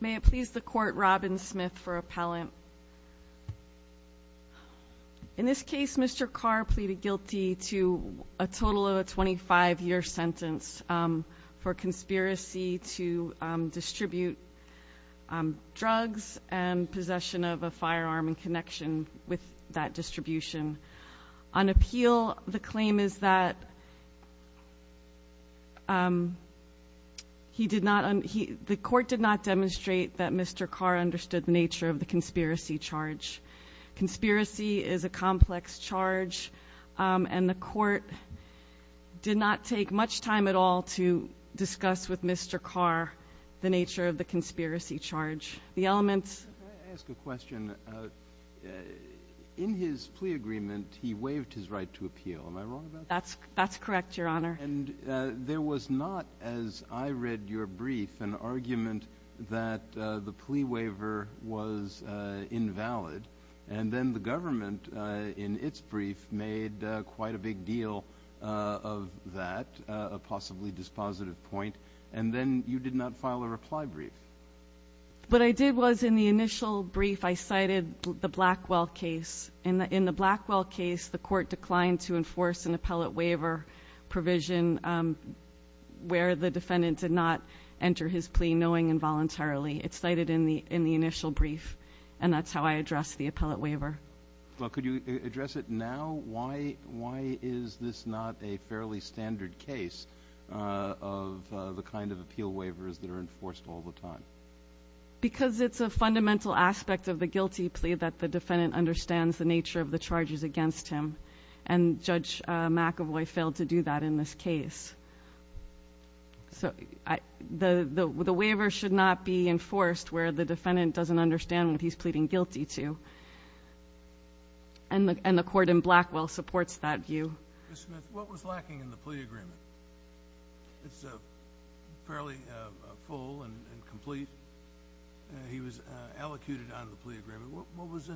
May it please the court Robin Smith for appellant. In this case Mr. Carr pleaded guilty to a total of a 25-year sentence for conspiracy to distribute drugs and possession of a firearm in connection with that distribution. On appeal the he did not he the court did not demonstrate that Mr. Carr understood the nature of the conspiracy charge. Conspiracy is a complex charge and the court did not take much time at all to discuss with Mr. Carr the nature of the conspiracy charge. The elements in his plea agreement he waived his right to I read your brief an argument that the plea waiver was invalid and then the government in its brief made quite a big deal of that a possibly dispositive point and then you did not file a reply brief. What I did was in the initial brief I cited the Blackwell case and in the Blackwell case the court declined to not enter his plea knowing involuntarily. It's cited in the in the initial brief and that's how I address the appellate waiver. Well could you address it now why why is this not a fairly standard case of the kind of appeal waivers that are enforced all the time? Because it's a fundamental aspect of the guilty plea that the defendant understands the nature of the charges against him and Judge McAvoy failed to do that in this case. So I the the waiver should not be enforced where the defendant doesn't understand what he's pleading guilty to and the and the court in Blackwell supports that view. What was lacking in the plea agreement? It's fairly full and complete. He was allocated out of the plea agreement. What was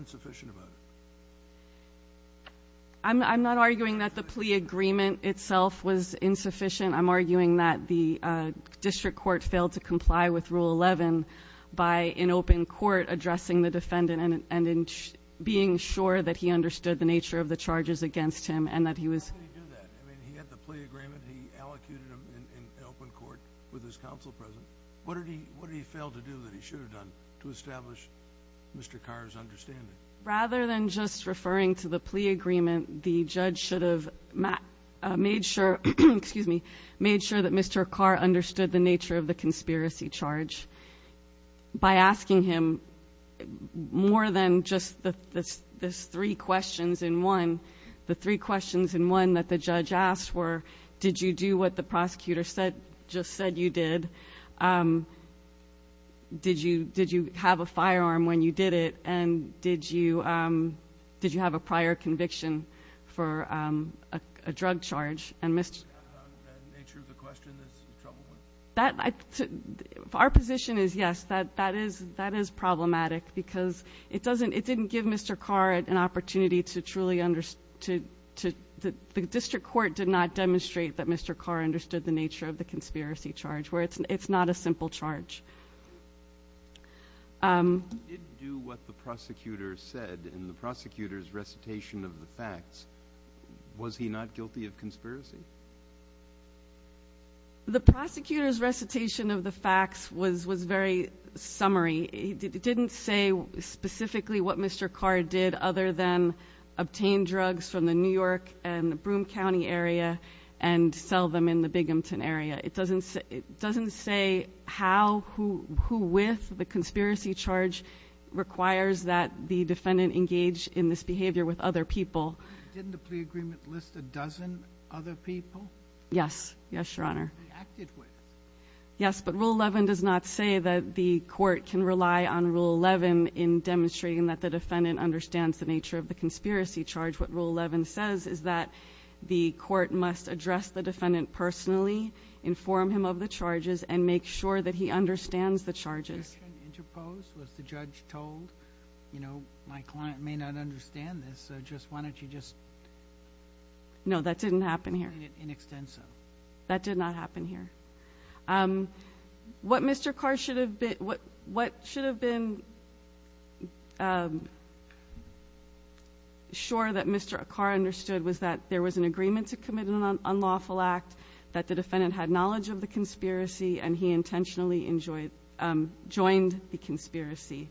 I'm not arguing that the plea agreement itself was insufficient I'm arguing that the district court failed to comply with rule 11 by an open court addressing the defendant and in being sure that he understood the nature of the charges against him and that he was. How could he do that? I mean he had the plea agreement. He allocated him in open court with his counsel present. What did he fail to do that he should have done to establish Mr. Carr's understanding? Rather than just referring to the plea agreement the judge should have made sure that Mr. Carr understood the nature of the conspiracy charge. By asking him more than just the three questions in one. The three questions in one that the judge asked were did you do what the prosecutor said just said you did did you did you have a firearm when you did it and did you did you have a prior conviction for a drug charge? Our position is yes that that is that is problematic because it doesn't it didn't give Mr. Carr an opportunity to truly understand. The district court did not demonstrate that Mr. Carr understood the nature of the conspiracy charge where it's it's not a simple charge. Did he do what the prosecutor said in the prosecutor's recitation of the facts? Was he not guilty of conspiracy? The prosecutor's recitation of the facts was was very summary. It didn't say specifically what Mr. Carr did other than obtain drugs from the New York and Broom County area and sell them in the Bighamton area. It doesn't it doesn't say how who who with the conspiracy charge requires that the defendant engage in this behavior with other people. Didn't the plea agreement list a dozen other people? Yes yes your honor. Yes but rule 11 does not say that the court can rely on rule 11 in demonstrating that the defendant understands the nature of the conspiracy charge. What rule 11 says is that the court must address the defendant personally inform him of the charges and make sure that he understands the nature of the conspiracy charge. Was the conviction interposed? Was the judge told you know my client may not understand this so just why don't you just explain it in extenso? No that didn't happen here that did not happen here um what Mr. Carr should have been what what should have been um sure that Mr. Carr understood was that there was an agreement to commit an unlawful act that the defendant had knowledge of the conspiracy and he intentionally enjoyed um joined the conspiracy.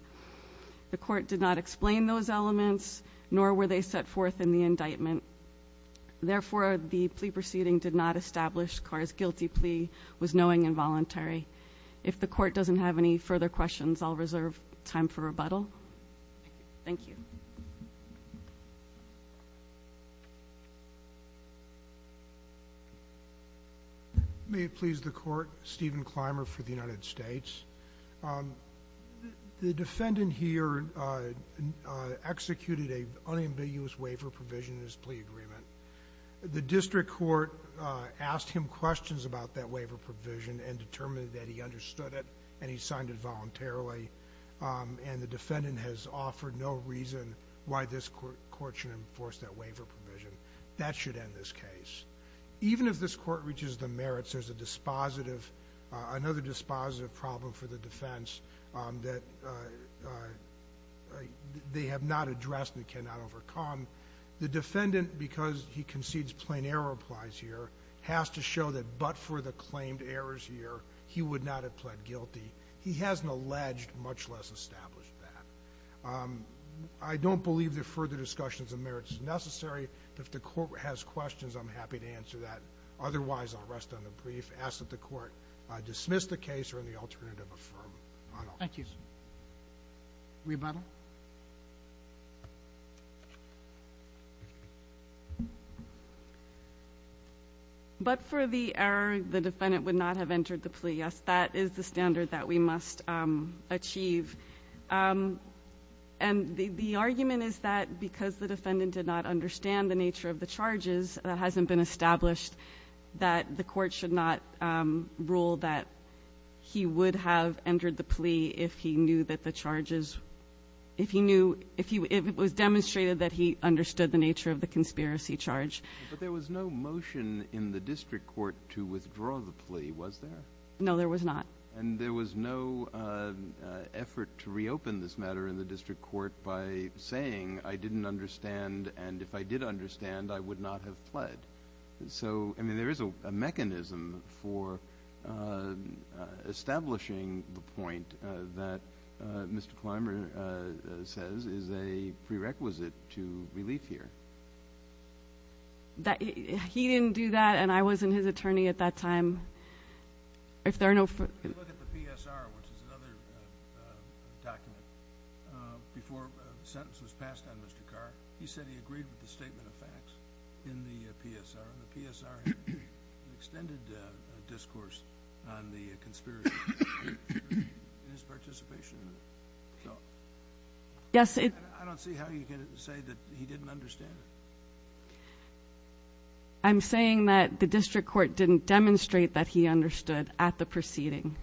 The court did not explain those elements nor were they set forth in the indictment. Therefore the plea proceeding did not establish Carr's guilty plea was knowing and voluntary. If the court doesn't have any further questions I'll reserve time for rebuttal. Thank you. May it please the court Stephen Clymer for the United States. Um the defendant here uh executed a unambiguous waiver provision in his plea agreement. The district court uh asked him questions about that waiver provision and determined that he understood it and he signed it voluntarily um and the defendant has offered no reason why this court should enforce that waiver provision. That should end this case. Even if this court reaches the merits there's a dispositive uh another dispositive problem for the defense um that uh uh they have not addressed and cannot overcome. The defendant because he concedes plain error applies here has to show that but for the claimed errors here he would not have pled guilty. He hasn't alleged much less established that. Um I don't believe that further discussions of merits is necessary. If the court has questions I'm happy to answer that. Otherwise I'll rest on the brief. Ask that the court uh dismiss the case or in the alternative affirm. Thank you. Rebuttal. But for the error the defendant would not have entered the plea. Yes that is the standard that we must um achieve. Um and the the argument is that because the defendant did not understand the nature of the charges that hasn't been established that the court should not um rule that he would have entered the plea if he knew that the charges if he knew that the charges would not have entered the plea. If he if it was demonstrated that he understood the nature of the conspiracy charge. But there was no motion in the district court to withdraw the plea was there? No there was not. And there was no uh effort to reopen this matter in the district court by saying I didn't understand and if I did understand I would not have pled. So I mean there is a mechanism for uh establishing the point uh that uh Mr. Clymer uh says is a prerequisite to relief here. That he didn't do that and I was in his attorney at that time. If there are no... Look at the PSR which is another uh document uh before the sentence was passed on Mr. Carr. He said he agreed with the statement of facts in the PSR. The PSR had an extended uh discourse on the conspiracy in his participation. Yes it... I don't see how you can say that he didn't understand it. I'm saying that the district court didn't demonstrate that he understood at the proceeding.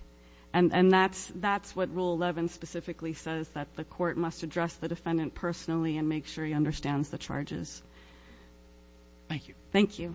And and that's that's what rule 11 specifically says. That the court must address the defendant personally and make sure he understands the charges. Thank you. Thank you.